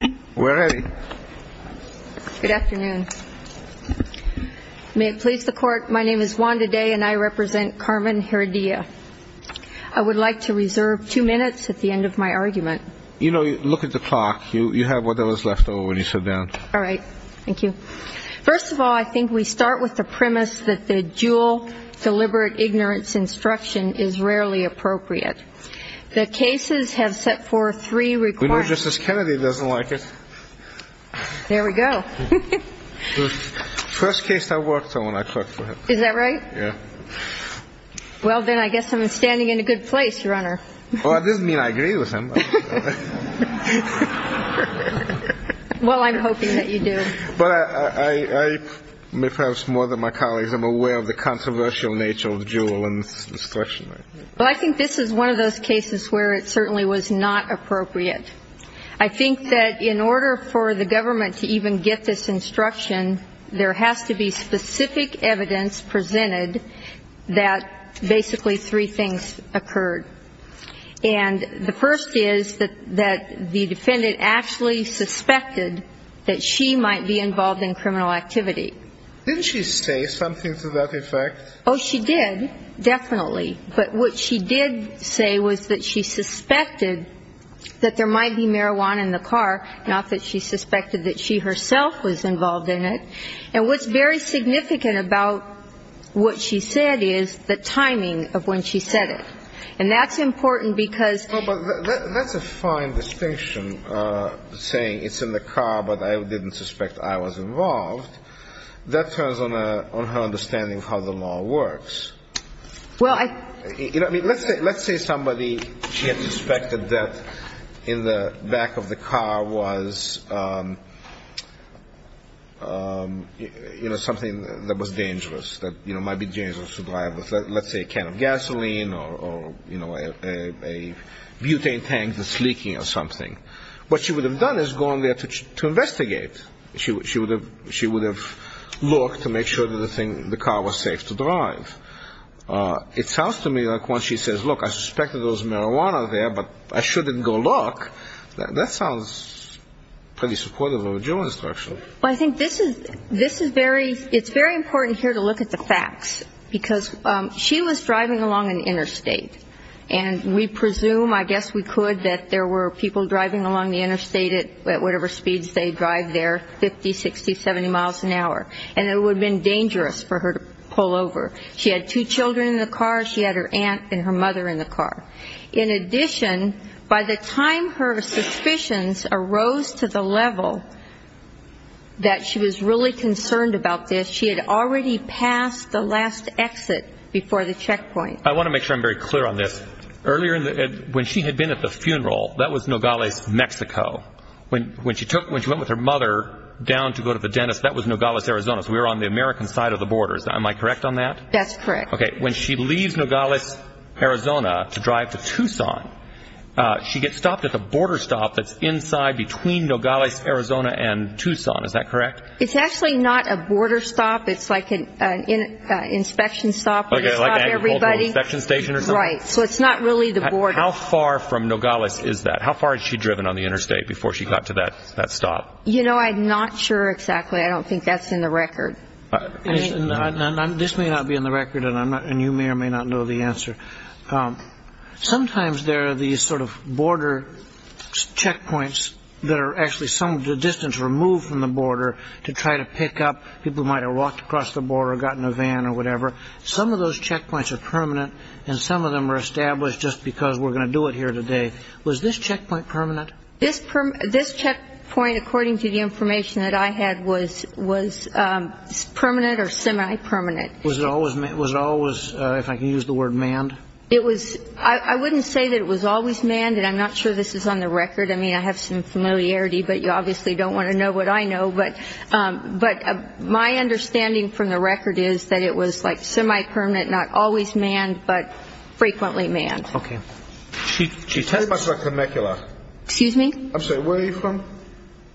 Good afternoon. May it please the court, my name is Wanda Day and I represent Carmen Heredia. I would like to reserve two minutes at the end of my argument. You know, look at the clock. You have whatever is left over when you sit down. All right. Thank you. First of all, I think we start with the premise that the dual deliberate ignorance instruction is rarely appropriate. The cases have set forth three requirements. We know Justice Kennedy doesn't like it. There we go. First case I worked on when I clerked for him. Is that right? Yeah. Well, then I guess I'm standing in a good place, Your Honor. Well, that doesn't mean I agree with him. Well, I'm hoping that you do. But I, perhaps more than my colleagues, am aware of the controversial nature of the dual instruction. Well, I think this is one of those cases where it certainly was not appropriate. I think that in order for the government to even get this instruction, there has to be specific evidence presented that basically three things occurred. And the first is that the defendant actually suspected that she might be involved in criminal activity. Didn't she say something to that effect? Oh, she did. Definitely. But what she did say was that she suspected that there might be marijuana in the car, not that she suspected that she herself was involved in it. And what's very significant about what she said is the timing of when she said it. And that's important because... Well, but that's a fine distinction, saying it's in the car, but I didn't suspect I was involved. That turns on her understanding of how the law works. Well, I... You know, I mean, let's say somebody, she had suspected that in the back of the car was, you know, something that was dangerous, that, you know, might be dangerous to drive with, let's say, a can of gasoline or, you know, a butane tank that's leaking or something. What she would have done is gone there to investigate. She would have looked to make sure that the car was safe to drive. It sounds to me like when she says, look, I suspected there was marijuana there, but I shouldn't go look. That sounds pretty supportive of a general instruction. Well, I think this is very... It's very important here to look at the facts because she was driving along an interstate. And we presume, I guess we could, that there were people driving along the interstate at whatever speeds they drive there, 50, 60, 70 miles an hour, and it would have been dangerous for her to pull over. She had two children in the car. She had her aunt and her mother in the car. In addition, by the time her suspicions arose to the level that she was really concerned about this, she had already passed the last exit before the checkpoint. I want to make sure I'm very clear on this. Earlier, when she had been at the funeral, that was Nogales, Mexico. When she went with her mother down to go to the dentist, that was Nogales, Arizona. So we were on the American side of the border. Am I correct on that? That's correct. Okay. When she leaves Nogales, Arizona, to drive to Tucson, she gets stopped at the border stop that's inside between Nogales, Arizona, and Tucson. Is that correct? It's actually not a border stop. It's like an inspection stop. Okay, like an agricultural inspection station or something? Right. So it's not really the border. How far from Nogales is that? How far has she driven on the interstate before she got to that stop? You know, I'm not sure exactly. I don't think that's in the record. This may not be in the record, and you may or may not know the answer. Sometimes there are these sort of border checkpoints that are actually some distance removed from the border to try to pick up people who might have walked across the border or gotten a van or whatever. Some of those checkpoints are permanent, and some of them are established just because we're going to do it here today. Was this checkpoint permanent? This checkpoint, according to the information that I had, was permanent or semi-permanent. Was it always, if I can use the word, manned? I wouldn't say that it was always manned, and I'm not sure this is on the record. I mean, I have some familiarity, but you obviously don't want to know what I know. But my understanding from the record is that it was like semi-permanent, not always manned, but frequently manned. Okay. She tells us about Temecula. Excuse me? I'm sorry. Where are you from?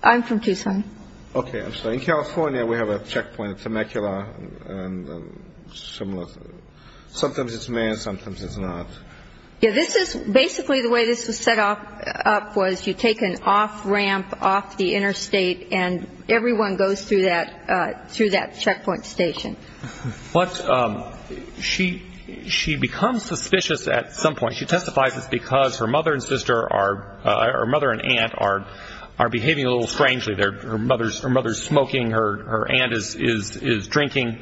I'm from Tucson. Okay. I'm sorry. In California, we have a checkpoint at Temecula, and sometimes it's manned, sometimes it's not. Basically, the way this was set up was you take an off-ramp off the interstate, and everyone goes through that checkpoint station. She becomes suspicious at some point. She testifies it's because her mother and aunt are behaving a little strangely. Her mother is smoking. Her aunt is drinking.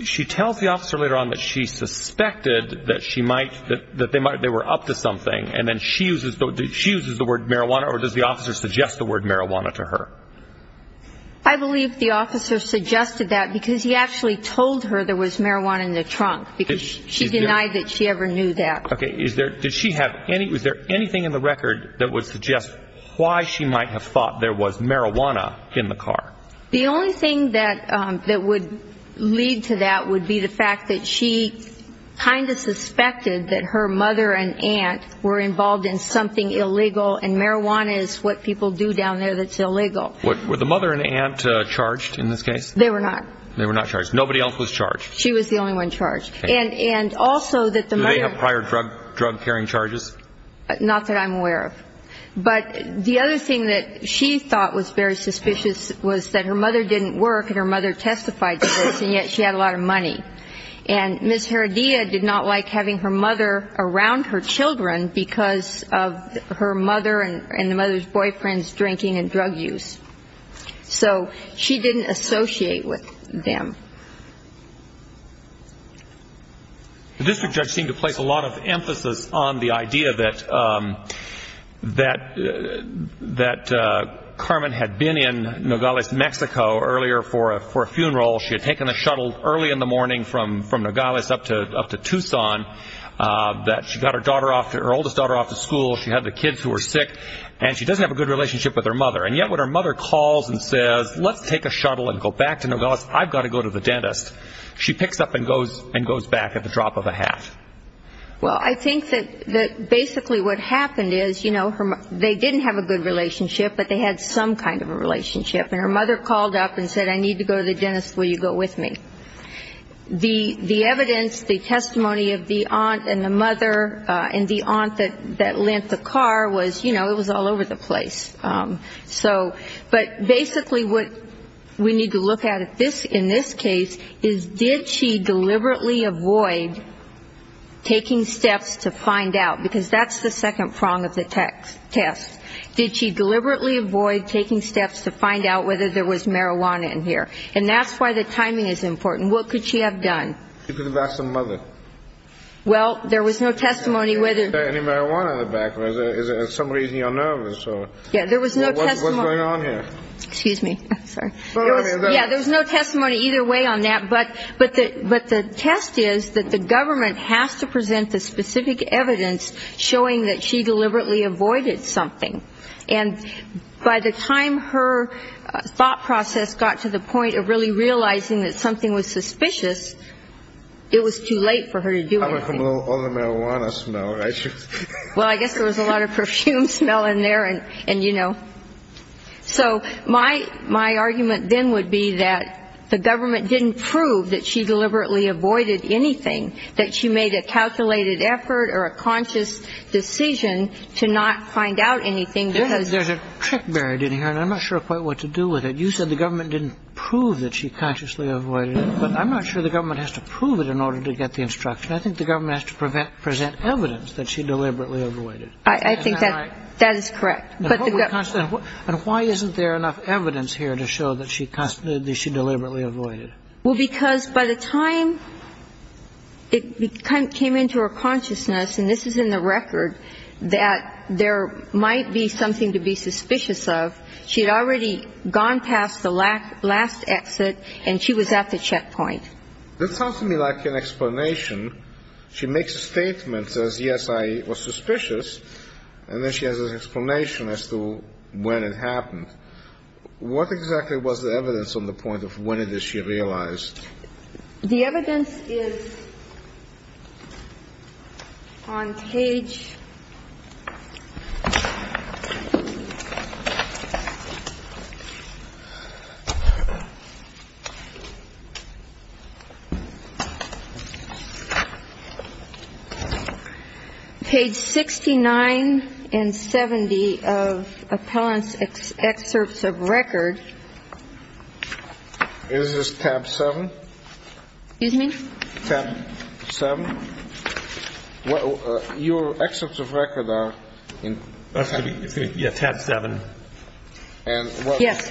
She tells the officer later on that she suspected that they were up to something, and then she uses the word marijuana, or does the officer suggest the word marijuana to her? I believe the officer suggested that because he actually told her there was marijuana in the trunk, because she denied that she ever knew that. Okay. Is there anything in the record that would suggest why she might have thought there was marijuana in the car? The only thing that would lead to that would be the fact that she kind of suspected that her mother and aunt were involved in something illegal, and marijuana is what people do down there that's illegal. Were the mother and aunt charged in this case? They were not. They were not charged. Nobody else was charged. She was the only one charged. Okay. And also that the mother and aunt. Do they have prior drug-carrying charges? Not that I'm aware of. But the other thing that she thought was very suspicious was that her mother didn't work and her mother testified to this, and yet she had a lot of money. And Ms. Heredia did not like having her mother around her children because of her mother and the mother's boyfriend's drinking and drug use. So she didn't associate with them. The district judge seemed to place a lot of emphasis on the idea that Carmen had been in Nogales, Mexico, earlier for a funeral. She had taken a shuttle early in the morning from Nogales up to Tucson. She got her oldest daughter off to school. She had the kids who were sick, and she doesn't have a good relationship with her mother. And yet when her mother calls and says, let's take a shuttle and go back to Nogales, I've got to go to the dentist, she picks up and goes back at the drop of a hat. Well, I think that basically what happened is, you know, they didn't have a good relationship, but they had some kind of a relationship. And her mother called up and said, I need to go to the dentist. Will you go with me? The evidence, the testimony of the aunt and the mother and the aunt that lent the car was, you know, it was all over the place. So, but basically what we need to look at in this case is, did she deliberately avoid taking steps to find out? Because that's the second prong of the test. Did she deliberately avoid taking steps to find out whether there was marijuana in here? And that's why the timing is important. What could she have done? She could have asked her mother. Well, there was no testimony whether there was any marijuana in the back. Is there some reason you're nervous? Yeah, there was no testimony. What's going on here? Excuse me. I'm sorry. Yeah, there was no testimony either way on that. But the test is that the government has to present the specific evidence showing that she deliberately avoided something. And by the time her thought process got to the point of really realizing that something was suspicious, it was too late for her to do anything. All the marijuana smell, right? Well, I guess there was a lot of perfume smell in there and, you know. So my argument then would be that the government didn't prove that she deliberately avoided anything, that she made a calculated effort or a conscious decision to not find out anything because There's a trick buried in here, and I'm not sure quite what to do with it. You said the government didn't prove that she consciously avoided it. But I'm not sure the government has to prove it in order to get the instruction. I think the government has to present evidence that she deliberately avoided. I think that is correct. And why isn't there enough evidence here to show that she deliberately avoided? Well, because by the time it came into her consciousness, and this is in the record, that there might be something to be suspicious of, she had already gone past the last exit and she was at the checkpoint. That sounds to me like an explanation. She makes a statement, says, yes, I was suspicious, and then she has an explanation as to when it happened. What exactly was the evidence on the point of when did she realize? The evidence is on page 69 and 70 of appellant's excerpts of record. Is this tab 7? Excuse me? Tab 7. Your excerpts of record are in tab 7. Yes,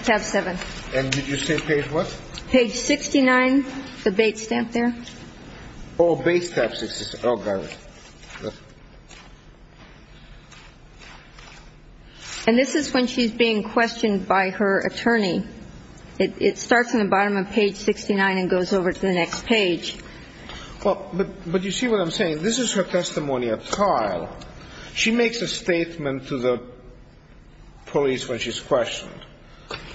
tab 7. And did you say page what? Page 69, the Bates stamp there. Oh, Bates tab 69. Oh, got it. And this is when she's being questioned by her attorney. It starts on the bottom of page 69 and goes over to the next page. Well, but you see what I'm saying? This is her testimony at trial. She makes a statement to the police when she's questioned,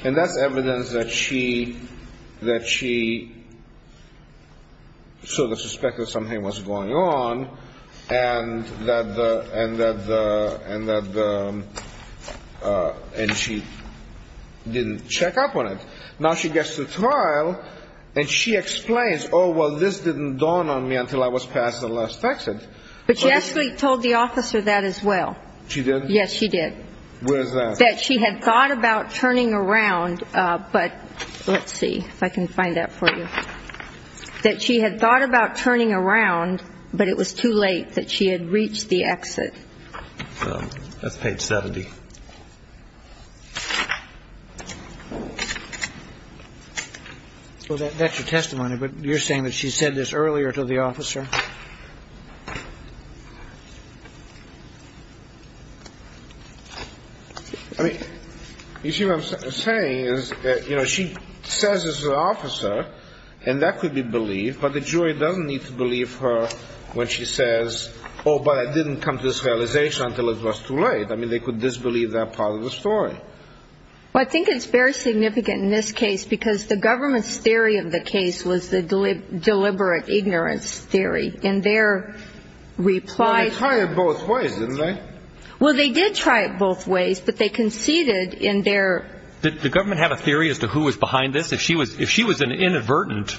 and that's evidence that she sort of suspected something was going on, and that she didn't check up on it. Now she gets to trial, and she explains, oh, well, this didn't dawn on me until I was passed the last text. But she actually told the officer that as well. She did? Yes, she did. Where's that? That she had thought about turning around, but let's see if I can find that for you. That she had thought about turning around, but it was too late that she had reached the exit. That's page 70. Well, that's your testimony, but you're saying that she said this earlier to the officer? I mean, you see what I'm saying? She says this to the officer, and that could be believed, but the jury doesn't need to believe her when she says, oh, but it didn't come to this realization until it was too late. I mean, they could disbelieve that part of the story. Well, I think it's very significant in this case because the government's theory of the case was the deliberate ignorance theory. Well, they tried it both ways, didn't they? Well, they did try it both ways, but they conceded in their... Did the government have a theory as to who was behind this? If she was an inadvertent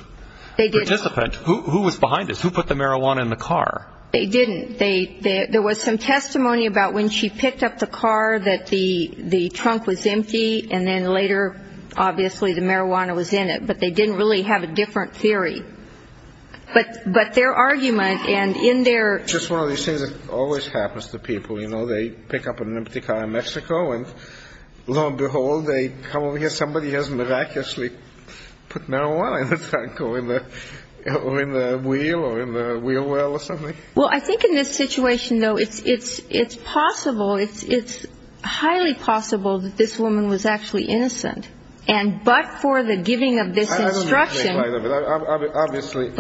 participant, who was behind this? Who put the marijuana in the car? They didn't. There was some testimony about when she picked up the car that the trunk was empty, and then later, obviously, the marijuana was in it, but they didn't really have a different theory. But their argument and in their... It's just one of these things that always happens to people. You know, they pick up an empty car in Mexico, and lo and behold, they come over here, somebody has miraculously put marijuana in the trunk or in the wheel or in the wheel well or something. Well, I think in this situation, though, it's possible, it's highly possible that this woman was actually innocent, and but for the giving of this instruction... Obviously,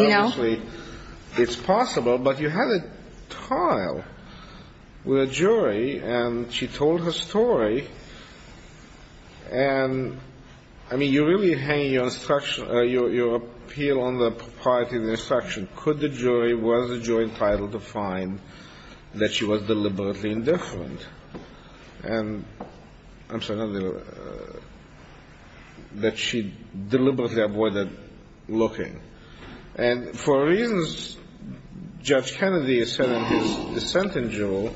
it's possible, but you had a trial with a jury, and she told her story, and, I mean, you're really hanging your appeal on the propriety of the instruction. Could the jury, was the jury entitled to find that she was deliberately indifferent? And I'm sorry, that she deliberately avoided looking. And for reasons Judge Kennedy has said in his dissent in Juneau,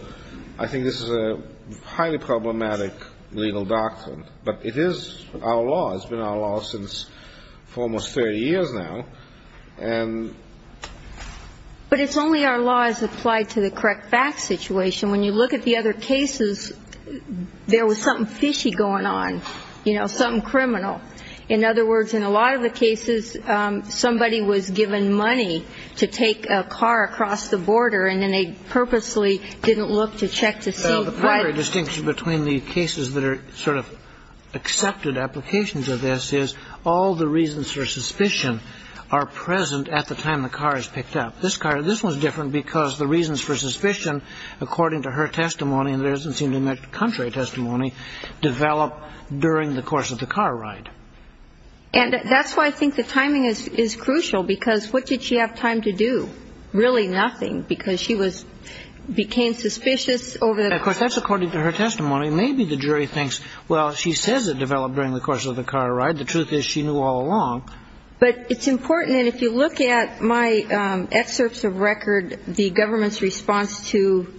I think this is a highly problematic legal doctrine, but it is our law. It's been our law for almost 30 years now, and... But it's only our law as applied to the correct facts situation. And when you look at the other cases, there was something fishy going on, you know, something criminal. In other words, in a lot of the cases, somebody was given money to take a car across the border, and then they purposely didn't look to check to see what... Well, the primary distinction between the cases that are sort of accepted applications of this is all the reasons for suspicion are present at the time the car is picked up. This car, this was different because the reasons for suspicion, according to her testimony, and there doesn't seem to be much contrary testimony, developed during the course of the car ride. And that's why I think the timing is crucial, because what did she have time to do? Really nothing, because she was, became suspicious over... Of course, that's according to her testimony. Maybe the jury thinks, well, she says it developed during the course of the car ride. The truth is she knew all along. But it's important, and if you look at my excerpts of record, the government's response to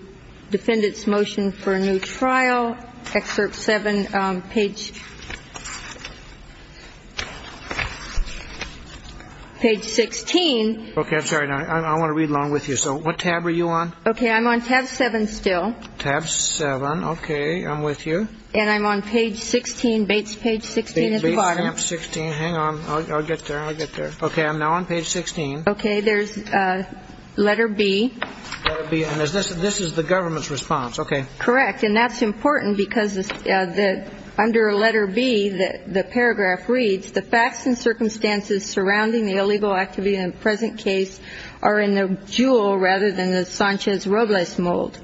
defendant's motion for a new trial, excerpt 7, page... Page 16. Okay. I'm sorry. I want to read along with you. So what tab are you on? Okay. I'm on tab 7 still. Tab 7. Okay. I'm with you. And I'm on page 16, Bates page 16 at the bottom. Bates tab 16. Hang on. I'll get there. I'll get there. Okay. I'm now on page 16. Okay. There's letter B. Letter B. And this is the government's response. Okay. Correct. And that's important, because under letter B, the paragraph reads, the facts and circumstances surrounding the illegal activity in the present case are in the jewel rather than the Sanchez-Robles mold.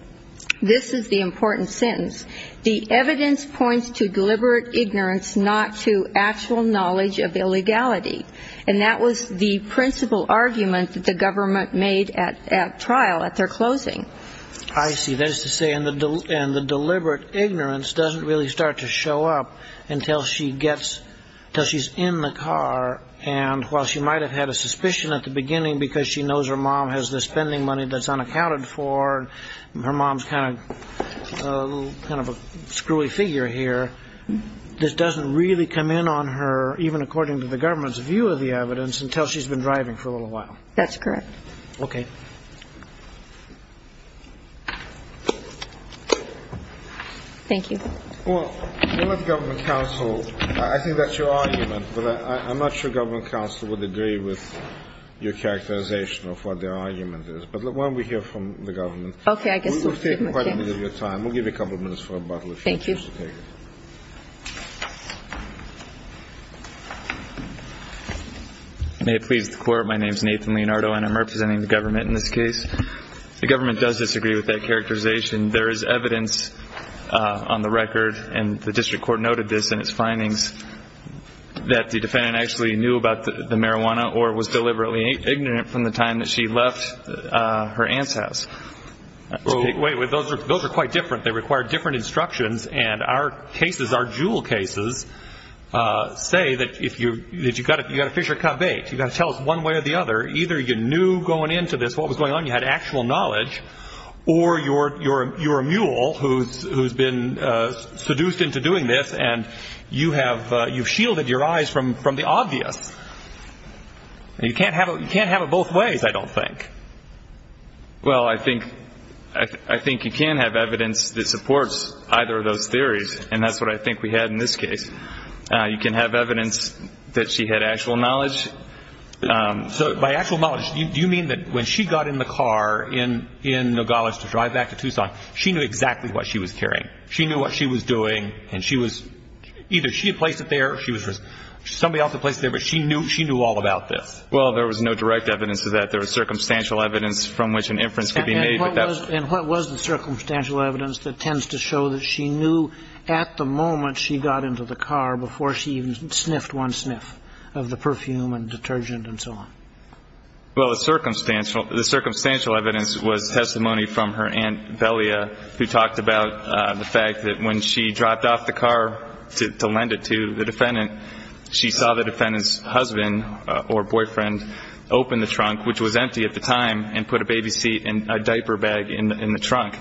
This is the important sentence. The evidence points to deliberate ignorance, not to actual knowledge of illegality. And that was the principal argument that the government made at trial at their closing. I see. That is to say, and the deliberate ignorance doesn't really start to show up until she's in the car, and while she might have had a suspicion at the beginning because she knows her mom has the spending money that's unaccounted for and her mom's kind of a screwy figure here, this doesn't really come in on her, even according to the government's view of the evidence, until she's been driving for a little while. That's correct. Okay. Thank you. Well, the government counsel, I think that's your argument, but I'm not sure government counsel would agree with your characterization of what their argument is. But why don't we hear from the government? Okay. We've taken quite a bit of your time. We'll give you a couple of minutes for a bottle if you want to take it. Thank you. May it please the Court, my name is Nathan Leonardo, and I'm representing the government in this case. The government does disagree with that characterization. There is evidence on the record, and the district court noted this in its findings, that the defendant actually knew about the marijuana or was deliberately ignorant from the time that she left her aunt's house. Wait, those are quite different. They require different instructions, and our cases, our jewel cases, say that you've got to fish or cut bait. You've got to tell us one way or the other. Either you knew going into this what was going on, you had actual knowledge, or you're a mule who's been seduced into doing this and you've shielded your eyes from the obvious. You can't have it both ways, I don't think. Well, I think you can have evidence that supports either of those theories, and that's what I think we had in this case. You can have evidence that she had actual knowledge. So by actual knowledge, do you mean that when she got in the car in Nogales to drive back to Tucson, she knew exactly what she was carrying? She knew what she was doing, and she was either she had placed it there, somebody else had placed it there, but she knew all about this? Well, there was no direct evidence of that. There was circumstantial evidence from which an inference could be made. And what was the circumstantial evidence that tends to show that she knew at the moment she got into the car before she even sniffed one sniff of the perfume and detergent and so on? Well, the circumstantial evidence was testimony from her Aunt Velia who talked about the fact that when she dropped off the car to lend it to the defendant, she saw the defendant's husband or boyfriend open the trunk, which was empty at the time, and put a baby seat and a diaper bag in the trunk.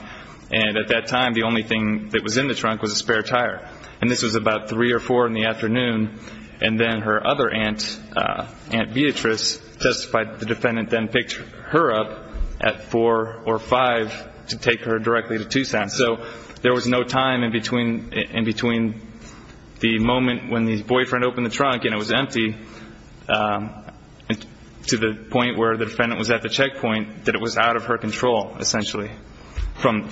And at that time, the only thing that was in the trunk was a spare tire. And this was about 3 or 4 in the afternoon, and then her other aunt, Aunt Beatrice, testified the defendant then picked her up at 4 or 5 to take her directly to Tucson. So there was no time in between the moment when the boyfriend opened the trunk and it was empty to the point where the defendant was at the checkpoint that it was out of her control, essentially. From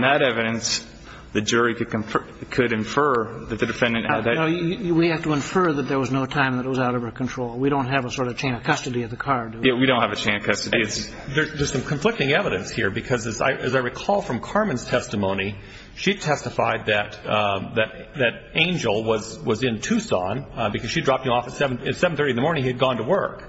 that evidence, the jury could infer that the defendant had that. We have to infer that there was no time that it was out of her control. We don't have a sort of chain of custody of the car, do we? Yeah, we don't have a chain of custody. There's some conflicting evidence here because, as I recall from Carmen's testimony, she testified that Angel was in Tucson because she dropped him off at 7.30 in the morning. He had gone to work.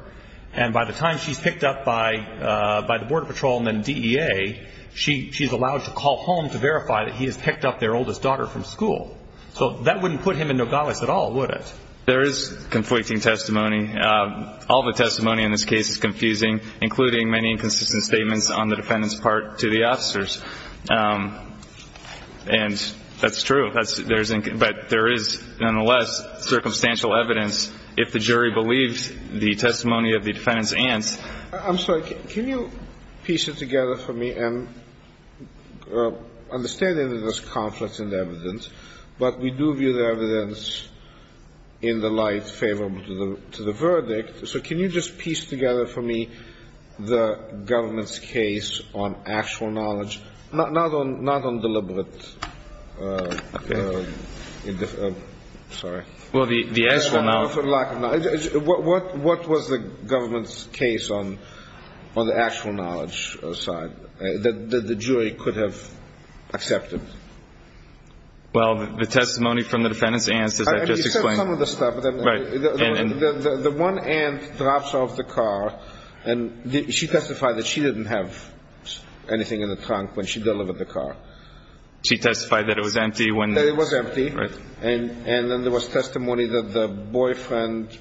And by the time she's picked up by the Border Patrol and then DEA, she's allowed to call home to verify that he has picked up their oldest daughter from school. So that wouldn't put him in Nogales at all, would it? There is conflicting testimony. All the testimony in this case is confusing, including many inconsistent statements on the defendant's part to the officers. And that's true. But there is, nonetheless, circumstantial evidence. If the jury believes the testimony of the defendant's aunt. I'm sorry. Can you piece it together for me? I am understanding that there's conflicts in the evidence, but we do view the evidence in the light favorable to the verdict. So can you just piece together for me the government's case on actual knowledge, not on deliberate. Sorry. Well, the actual knowledge. What was the government's case on the actual knowledge side that the jury could have accepted? Well, the testimony from the defendant's aunt. He said some of the stuff. The one aunt drops off the car. And she testified that she didn't have anything in the trunk when she delivered the car. She testified that it was empty. It was empty. And then there was testimony that the boyfriend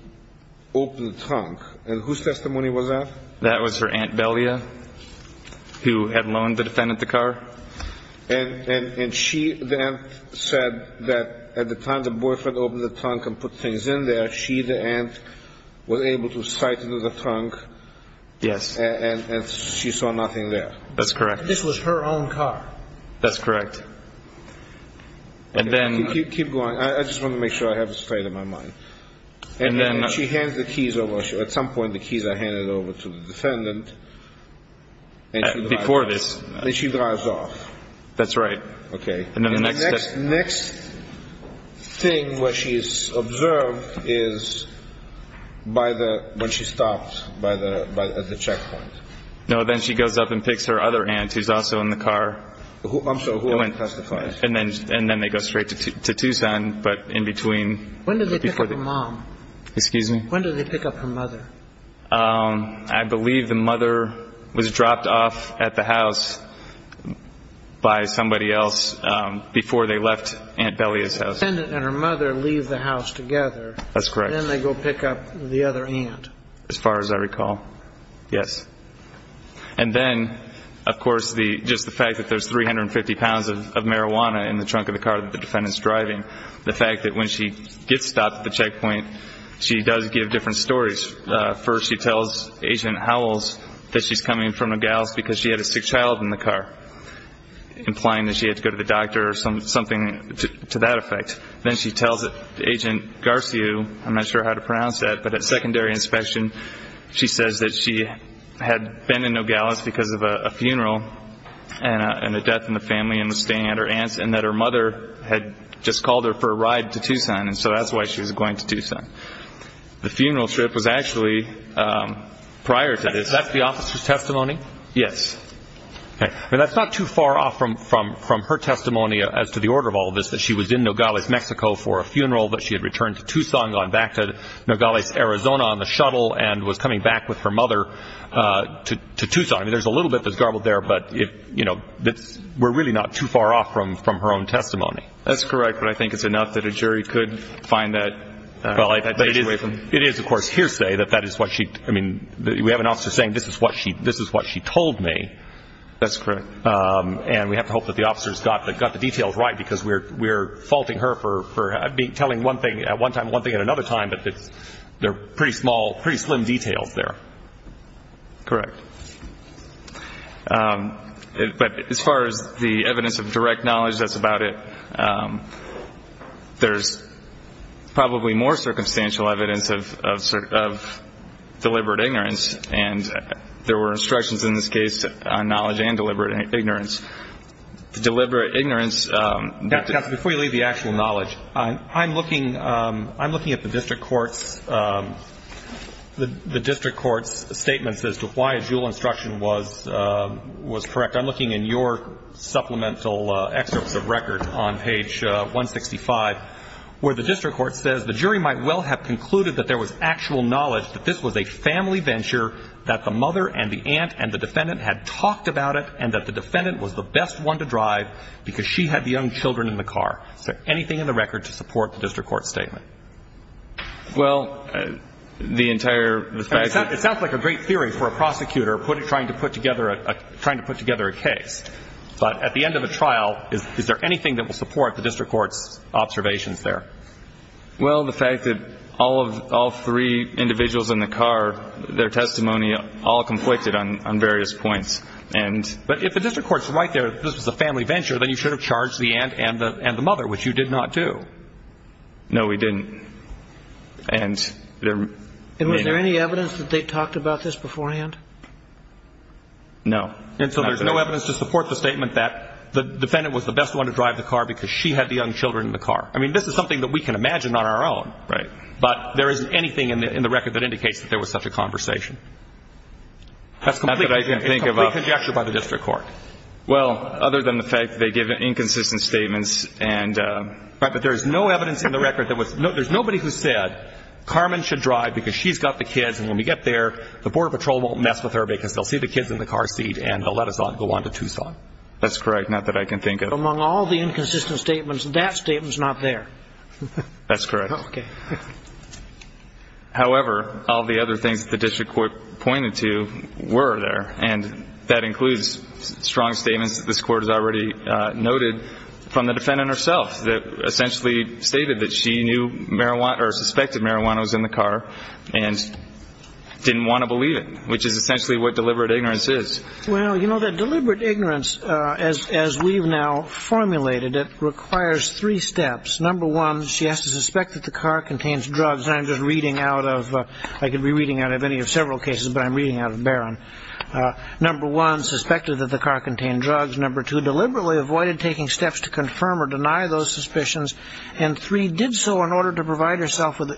opened the trunk. And whose testimony was that? That was her Aunt Belia, who had loaned the defendant the car. And she, the aunt, said that at the time the boyfriend opened the trunk and put things in there, she, the aunt, was able to sight into the trunk. Yes. And she saw nothing there. That's correct. This was her own car. That's correct. And then. Keep going. I just want to make sure I have this straight in my mind. And then. She hands the keys over. At some point the keys are handed over to the defendant. Before this. And she drives off. That's right. Okay. And then the next. The next thing where she is observed is by the, when she stops at the checkpoint. No, then she goes up and picks her other aunt, who's also in the car. I'm sorry. Who else testified? And then they go straight to Tucson. But in between. When did they pick up her mom? Excuse me? When did they pick up her mother? I believe the mother was dropped off at the house by somebody else before they left Aunt Belia's house. The defendant and her mother leave the house together. That's correct. Then they go pick up the other aunt. As far as I recall. Yes. And then, of course, just the fact that there's 350 pounds of marijuana in the trunk of the car that the defendant's driving. The fact that when she gets stopped at the checkpoint, she does give different stories. First she tells Agent Howells that she's coming from Nogales because she had a sick child in the car, implying that she had to go to the doctor or something to that effect. Then she tells Agent Garcia, I'm not sure how to pronounce that, but at secondary inspection, she says that she had been in Nogales because of a funeral and a death in the family and was staying at her aunt's and that her mother had just called her for a ride to Tucson, and so that's why she was going to Tucson. The funeral trip was actually prior to this. Is that the officer's testimony? Yes. Okay. That's not too far off from her testimony as to the order of all this, that she was in Nogales, Mexico for a funeral, that she had returned to Tucson, gone back to Nogales, Arizona on the shuttle, and was coming back with her mother to Tucson. There's a little bit that's garbled there, but we're really not too far off from her own testimony. That's correct, but I think it's enough that a jury could find that. It is, of course, hearsay that that is what she – we have an officer saying this is what she told me. That's correct. And we have to hope that the officers got the details right because we're faulting her for telling one thing at one time and telling one thing at another time, but they're pretty small, pretty slim details there. Correct. But as far as the evidence of direct knowledge that's about it, there's probably more circumstantial evidence of deliberate ignorance, and there were instructions in this case on knowledge and deliberate ignorance. Before you leave the actual knowledge, I'm looking at the district court's statements as to why a jewel instruction was correct. I'm looking in your supplemental excerpts of record on page 165 where the district court says, the jury might well have concluded that there was actual knowledge that this was a family venture, that the mother and the aunt and the defendant had talked about it, and that the defendant was the best one to drive because she had the young children in the car. Is there anything in the record to support the district court's statement? Well, the entire – It sounds like a great theory for a prosecutor trying to put together a case, but at the end of a trial, is there anything that will support the district court's observations there? Well, the fact that all three individuals in the car, their testimony all conflicted on various points. But if the district court's right there that this was a family venture, then you should have charged the aunt and the mother, which you did not do. No, we didn't. And there may have been. And was there any evidence that they talked about this beforehand? No. And so there's no evidence to support the statement that the defendant was the best one to drive the car because she had the young children in the car. I mean, this is something that we can imagine on our own. Right. But there isn't anything in the record that indicates that there was such a conversation. That's complete conjecture by the district court. Well, other than the fact that they gave inconsistent statements and – Right, but there is no evidence in the record that was – there's nobody who said Carmen should drive because she's got the kids, and when we get there, the Border Patrol won't mess with her because they'll see the kids in the car seat and they'll let us go on to Tucson. That's correct, not that I can think of. Among all the inconsistent statements, that statement's not there. That's correct. Okay. However, all the other things that the district court pointed to were there, and that includes strong statements that this Court has already noted from the defendant herself that essentially stated that she knew marijuana – or suspected marijuana was in the car and didn't want to believe it, which is essentially what deliberate ignorance is. Well, you know, that deliberate ignorance, as we've now formulated it, requires three steps. Number one, she has to suspect that the car contains drugs. I'm just reading out of – I could be reading out of any of several cases, but I'm reading out of Barron. Number one, suspected that the car contained drugs. Number two, deliberately avoided taking steps to confirm or deny those suspicions. And three, did so in order to provide herself with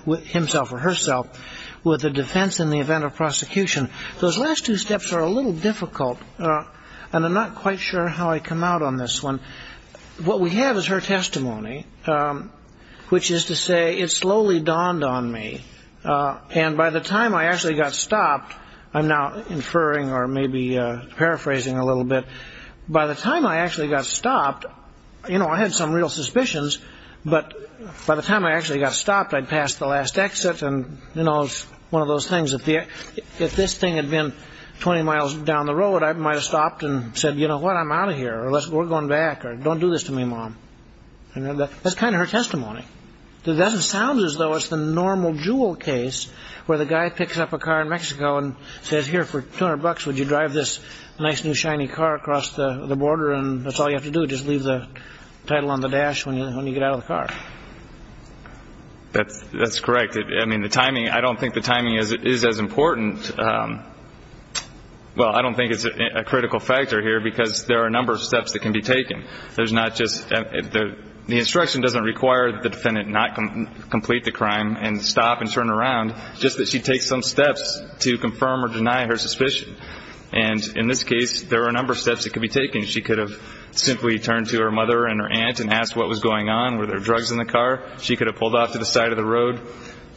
a defense in the event of prosecution. Those last two steps are a little difficult, and I'm not quite sure how I come out on this one. What we have is her testimony, which is to say, it slowly dawned on me, and by the time I actually got stopped – I'm now inferring or maybe paraphrasing a little bit – by the time I actually got stopped, you know, I had some real suspicions, but by the time I actually got stopped, I'd passed the last exit, and, you know, it's one of those things. If this thing had been 20 miles down the road, I might have stopped and said, you know what, I'm out of here, or we're going back, or don't do this to me, Mom. That's kind of her testimony. It doesn't sound as though it's the normal jewel case where the guy picks up a car in Mexico and says, here, for 200 bucks, would you drive this nice new shiny car across the border, and that's all you have to do, just leave the title on the dash when you get out of the car. That's correct. I mean, the timing – I don't think the timing is as important – well, I don't think it's a critical factor here because there are a number of steps that can be taken. There's not just – the instruction doesn't require the defendant not complete the crime and stop and turn around, just that she takes some steps to confirm or deny her suspicion. And in this case, there are a number of steps that could be taken. She could have simply turned to her mother and her aunt and asked what was going on. Were there drugs in the car? She could have pulled off to the side of the road.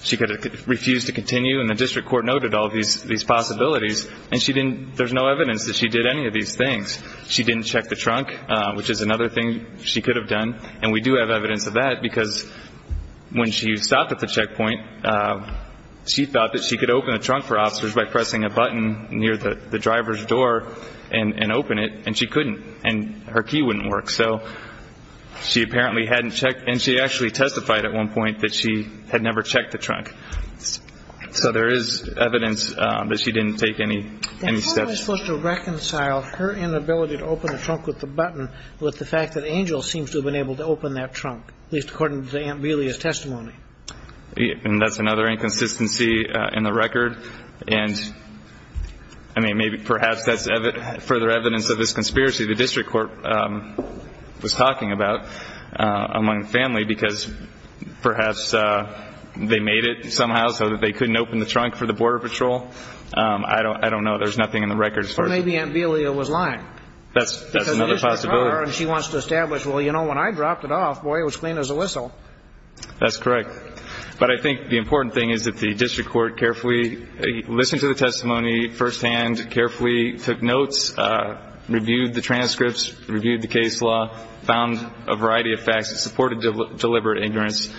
She could have refused to continue, and the district court noted all these possibilities. And she didn't – there's no evidence that she did any of these things. She didn't check the trunk, which is another thing she could have done, and we do have evidence of that because when she stopped at the checkpoint, she thought that she could open the trunk for officers by pressing a button near the driver's door and open it, and she couldn't, and her key wouldn't work. So she apparently hadn't checked, and she actually testified at one point that she had never checked the trunk. So there is evidence that she didn't take any steps. And how are we supposed to reconcile her inability to open the trunk with the button with the fact that Angel seems to have been able to open that trunk, at least according to Aunt Bealey's testimony? And that's another inconsistency in the record. And, I mean, maybe perhaps that's further evidence of this conspiracy. The district court was talking about among the family because perhaps they made it somehow so that they couldn't open the trunk for the Border Patrol. I don't know. There's nothing in the record as far as we know. Or maybe Aunt Bealey was lying. That's another possibility. Because the district court, and she wants to establish, well, you know, when I dropped it off, boy, it was clean as a whistle. That's correct. But I think the important thing is that the district court carefully listened to the testimony firsthand, carefully took notes, reviewed the transcripts, reviewed the case law, found a variety of facts that supported deliberate ignorance,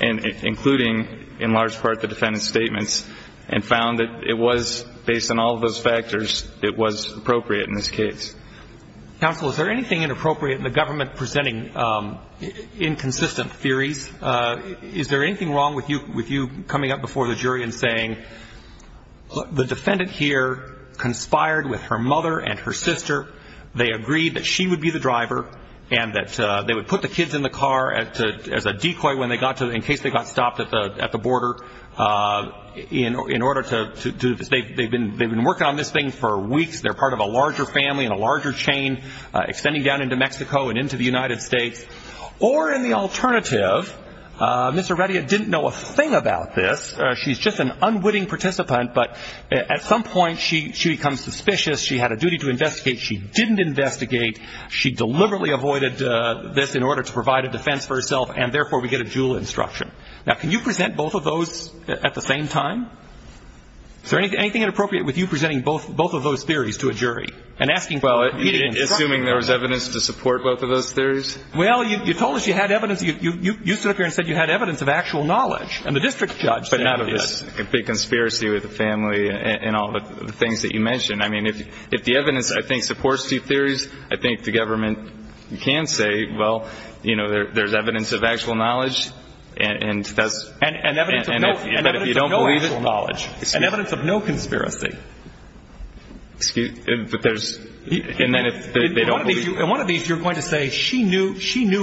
including, in large part, the defendant's statements, and found that it was, based on all of those factors, it was appropriate in this case. Counsel, is there anything inappropriate in the government presenting inconsistent theories? Is there anything wrong with you coming up before the jury and saying the defendant here conspired with her mother and her sister, they agreed that she would be the driver, and that they would put the kids in the car as a decoy in case they got stopped at the border in order to do this. They've been working on this thing for weeks. They're part of a larger family and a larger chain extending down into Mexico and into the United States. Or in the alternative, Ms. Arradia didn't know a thing about this. She's just an unwitting participant. But at some point, she becomes suspicious. She had a duty to investigate. She didn't investigate. She deliberately avoided this in order to provide a defense for herself, and therefore we get a jewel instruction. Now, can you present both of those at the same time? Is there anything inappropriate with you presenting both of those theories to a jury? Well, assuming there was evidence to support both of those theories? Well, you told us you had evidence. You stood up here and said you had evidence of actual knowledge, and the district judge said yes. But not of this big conspiracy with the family and all the things that you mentioned. I mean, if the evidence, I think, supports these theories, I think the government can say, well, you know, there's evidence of actual knowledge, and if you don't believe it. And evidence of no actual knowledge. And evidence of no conspiracy. But there's, and then if they don't believe. In one of these, you're going to say she knew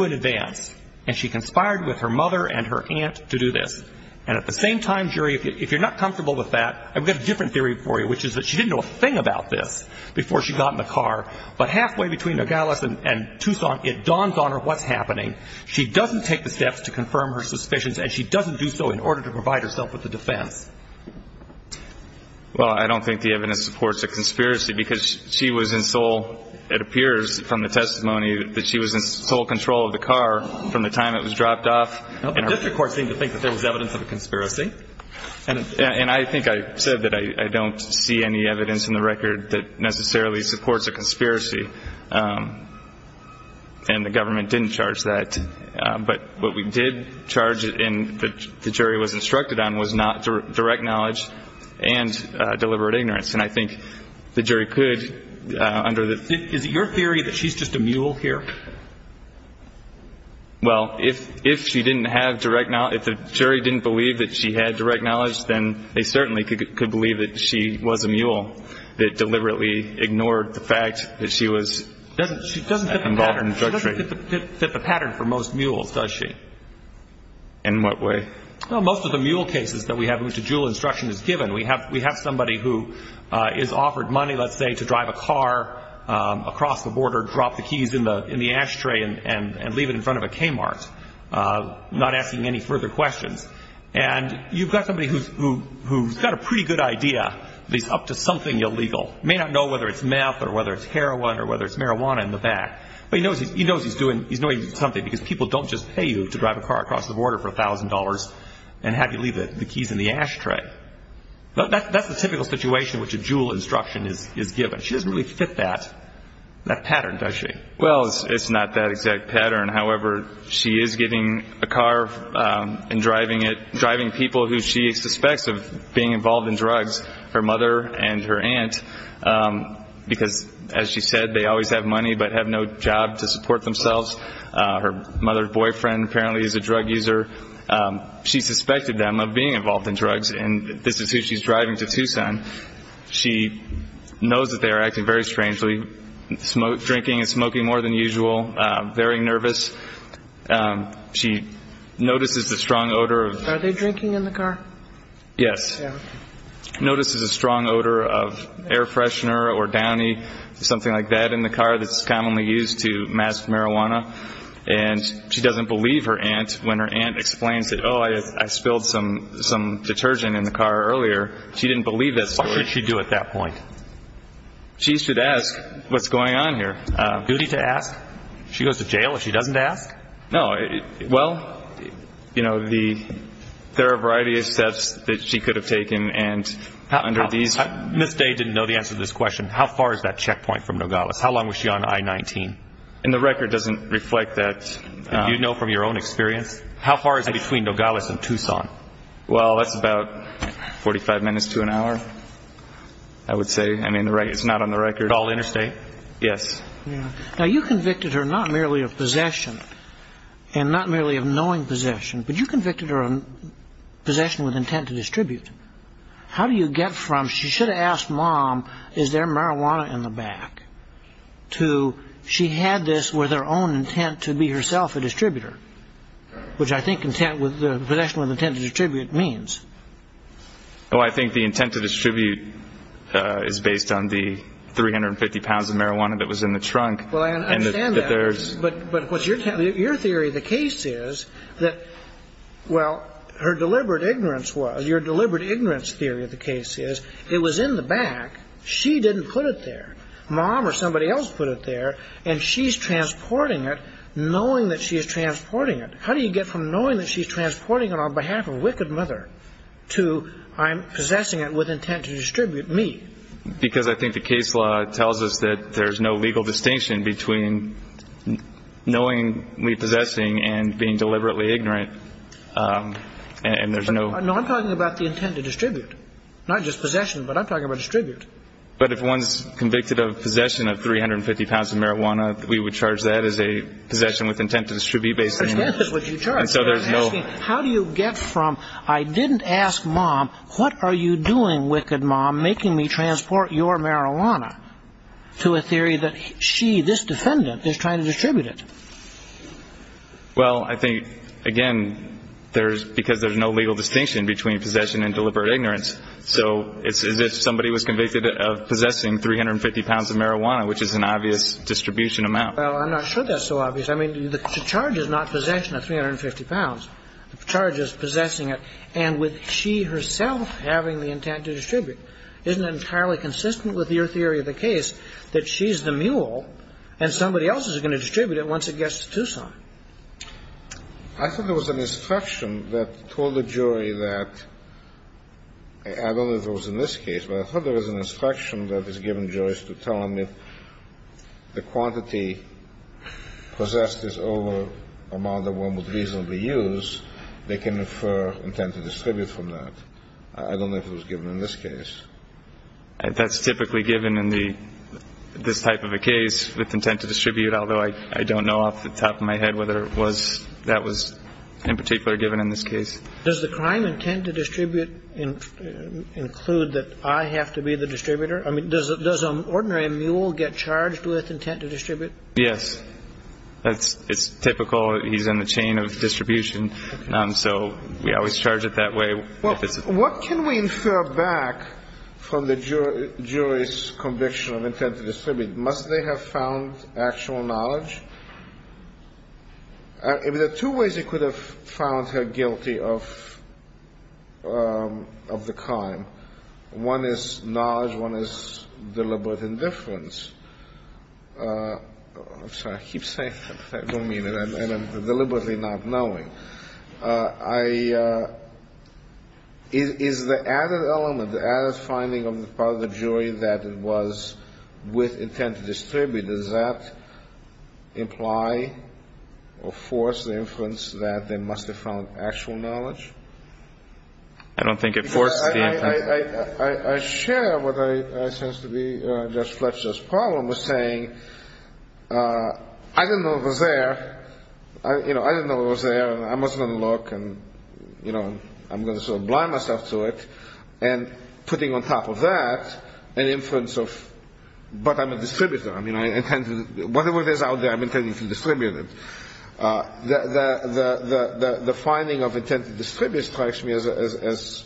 in advance, and she conspired with her mother and her aunt to do this. And at the same time, jury, if you're not comfortable with that, I've got a different theory for you, which is that she didn't know a thing about this before she got in the car. But halfway between Nogales and Tucson, it dawns on her what's happening. She doesn't take the steps to confirm her suspicions, and she doesn't do so in order to provide herself with a defense. Well, I don't think the evidence supports a conspiracy, because she was in sole, it appears from the testimony, that she was in sole control of the car from the time it was dropped off. The district court seemed to think that there was evidence of a conspiracy. And I think I said that I don't see any evidence in the record that necessarily supports a conspiracy. And the government didn't charge that. But what we did charge, and the jury was instructed on, was not direct knowledge and deliberate ignorance. And I think the jury could, under the ---- Is it your theory that she's just a mule here? Well, if she didn't have direct knowledge, if the jury didn't believe that she had direct knowledge, then they certainly could believe that she was a mule that deliberately ignored the fact that she was involved in drug trafficking. She doesn't fit the pattern for most mules, does she? In what way? Well, most of the mule cases that we have, which a dual instruction is given, we have somebody who is offered money, let's say, to drive a car across the border, drop the keys in the ashtray, and leave it in front of a Kmart, not asking any further questions. And you've got somebody who's got a pretty good idea that he's up to something illegal. He may not know whether it's meth or whether it's heroin or whether it's marijuana in the back, but he knows he's doing something because people don't just pay you to drive a car across the border for $1,000 and have you leave the keys in the ashtray. That's the typical situation which a dual instruction is given. She doesn't really fit that pattern, does she? Well, it's not that exact pattern. However, she is getting a car and driving it, because, as she said, they always have money but have no job to support themselves. Her mother's boyfriend apparently is a drug user. She suspected them of being involved in drugs, and this is who she's driving to Tucson. She knows that they are acting very strangely, drinking and smoking more than usual, very nervous. She notices a strong odor of... Are they drinking in the car? Yes. Notices a strong odor of air freshener or downy, something like that, in the car that's commonly used to mask marijuana. And she doesn't believe her aunt when her aunt explains that, oh, I spilled some detergent in the car earlier. She didn't believe that story. What could she do at that point? She should ask what's going on here. Duty to ask? She goes to jail if she doesn't ask? No. Well, you know, there are a variety of steps that she could have taken, and under these... Ms. Day didn't know the answer to this question. How far is that checkpoint from Nogales? How long was she on I-19? And the record doesn't reflect that. Do you know from your own experience? How far is it between Nogales and Tucson? Well, that's about 45 minutes to an hour, I would say. I mean, it's not on the record. All interstate? Yes. Now, you convicted her not merely of possession and not merely of knowing possession, but you convicted her of possession with intent to distribute. How do you get from she should have asked Mom, is there marijuana in the back, to she had this with her own intent to be herself a distributor, which I think possession with intent to distribute means. Well, I think the intent to distribute is based on the 350 pounds of marijuana that was in the trunk. Well, I understand that. And that there's... But your theory of the case is that, well, her deliberate ignorance was. Your deliberate ignorance theory of the case is it was in the back. She didn't put it there. Mom or somebody else put it there, and she's transporting it knowing that she is transporting it. How do you get from knowing that she's transporting it on behalf of a wicked mother to I'm possessing it with intent to distribute me? Because I think the case law tells us that there's no legal distinction between knowingly possessing and being deliberately ignorant, and there's no... No, I'm talking about the intent to distribute, not just possession, but I'm talking about distribute. But if one's convicted of possession of 350 pounds of marijuana, we would charge that as a possession with intent to distribute based on... Intent is what you charge. And so there's no... How do you get from I didn't ask Mom, what are you doing, wicked Mom, making me transport your marijuana, to a theory that she, this defendant, is trying to distribute it? Well, I think, again, because there's no legal distinction between possession and deliberate ignorance. So it's as if somebody was convicted of possessing 350 pounds of marijuana, which is an obvious distribution amount. Well, I'm not sure that's so obvious. I mean, the charge is not possession of 350 pounds. The charge is possessing it. And with she herself having the intent to distribute, isn't it entirely consistent with your theory of the case that she's the mule and somebody else is going to distribute it once it gets to Tucson? I thought there was an instruction that told the jury that, I don't know if it was in this case, but I thought there was an instruction that is given jurors to tell them if the quantity possessed is over a amount that one would reasonably use, they can infer intent to distribute from that. I don't know if it was given in this case. That's typically given in this type of a case with intent to distribute, although I don't know off the top of my head whether that was in particular given in this case. Does the crime intent to distribute include that I have to be the distributor? I mean, does an ordinary mule get charged with intent to distribute? Yes. It's typical. He's in the chain of distribution. So we always charge it that way. What can we infer back from the jury's conviction of intent to distribute? Must they have found actual knowledge? I mean, there are two ways you could have found her guilty of the crime. One is knowledge. One is deliberate indifference. I'm sorry. I keep saying that, but I don't mean it, and I'm deliberately not knowing. Is the added element, the added finding of the part of the jury that it was with intent to distribute, does that imply or force the inference that they must have found actual knowledge? I don't think it forced the inference. I share what I sense to be Judge Fletcher's problem with saying I didn't know it was there. I didn't know it was there, and I wasn't going to look, and I'm going to sort of blind myself to it, and putting on top of that an inference of, but I'm a distributor. I mean, whatever it is out there, I'm intending to distribute it. The finding of intent to distribute strikes me as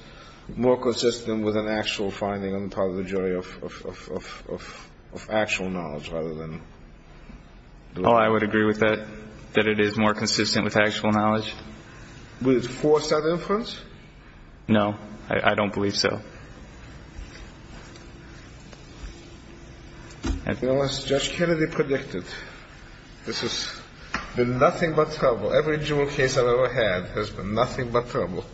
more consistent with an actual finding on the part of the jury of actual knowledge rather than. Oh, I would agree with that, that it is more consistent with actual knowledge. Would it force that inference? No. I don't believe so. As Judge Kennedy predicted, this has been nothing but trouble. Every jury case I've ever had has been nothing but trouble.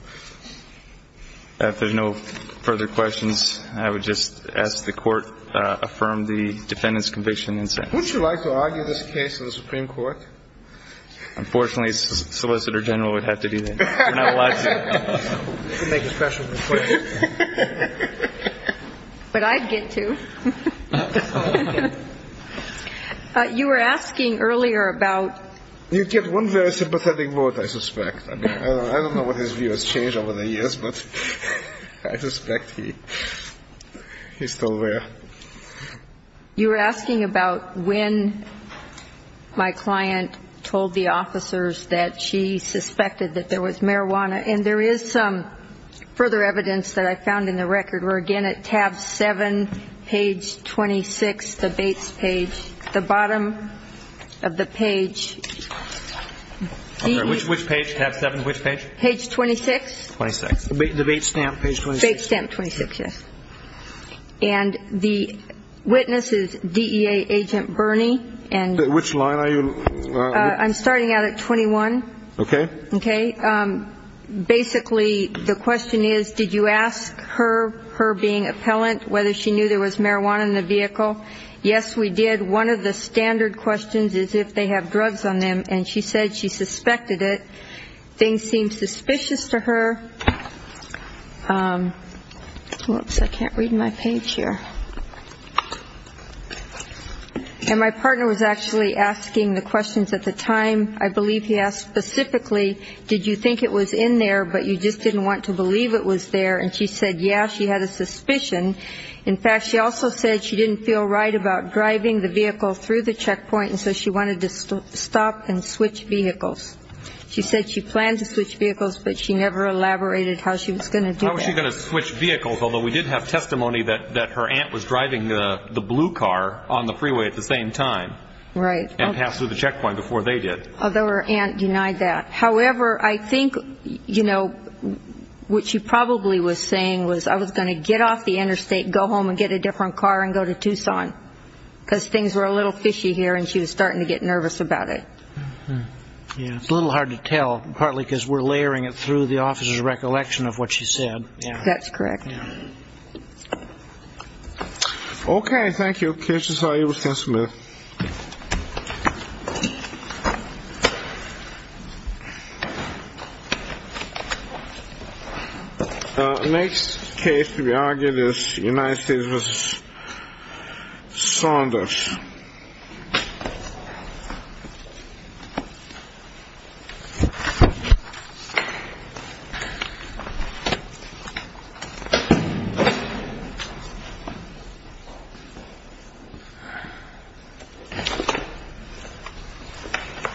If there's no further questions, I would just ask the Court affirm the defendant's conviction in sentence. Would you like to argue this case in the Supreme Court? Unfortunately, Solicitor General would have to do that. You're not allowed to. But I'd get to. You were asking earlier about. You get one very sympathetic vote, I suspect. I don't know what his view has changed over the years, but I suspect he's still there. You were asking about when my client told the officers that she suspected that there was marijuana. And there is some further evidence that I found in the record where, again, at tab 7, page 26, the Bates page, the bottom of the page. Which page, tab 7, which page? Page 26. 26. The Bates stamp, page 26. Bates stamp, 26, yes. And the witness is DEA Agent Bernie. Which line are you? I'm starting out at 21. Okay. Okay. Basically, the question is, did you ask her, her being appellant, whether she knew there was marijuana in the vehicle? Yes, we did. One of the standard questions is if they have drugs on them. And she said she suspected it. Things seemed suspicious to her. Oops, I can't read my page here. And my partner was actually asking the questions at the time. I believe he asked specifically, did you think it was in there, but you just didn't want to believe it was there? And she said, yes, she had a suspicion. In fact, she also said she didn't feel right about driving the vehicle through the checkpoint, and so she wanted to stop and switch vehicles. She said she planned to switch vehicles, but she never elaborated how she was going to do that. How was she going to switch vehicles? Although we did have testimony that her aunt was driving the blue car on the freeway at the same time. Right. And passed through the checkpoint before they did. Although her aunt denied that. However, I think, you know, what she probably was saying was, I was going to get off the interstate, go home and get a different car and go to Tucson, because things were a little fishy here and she was starting to get nervous about it. Yeah, it's a little hard to tell, partly because we're layering it through the officer's recollection of what she said. Yeah, that's correct. Okay. Thank you. Okay. Next case to be argued is United States v. Saunders. Thank you.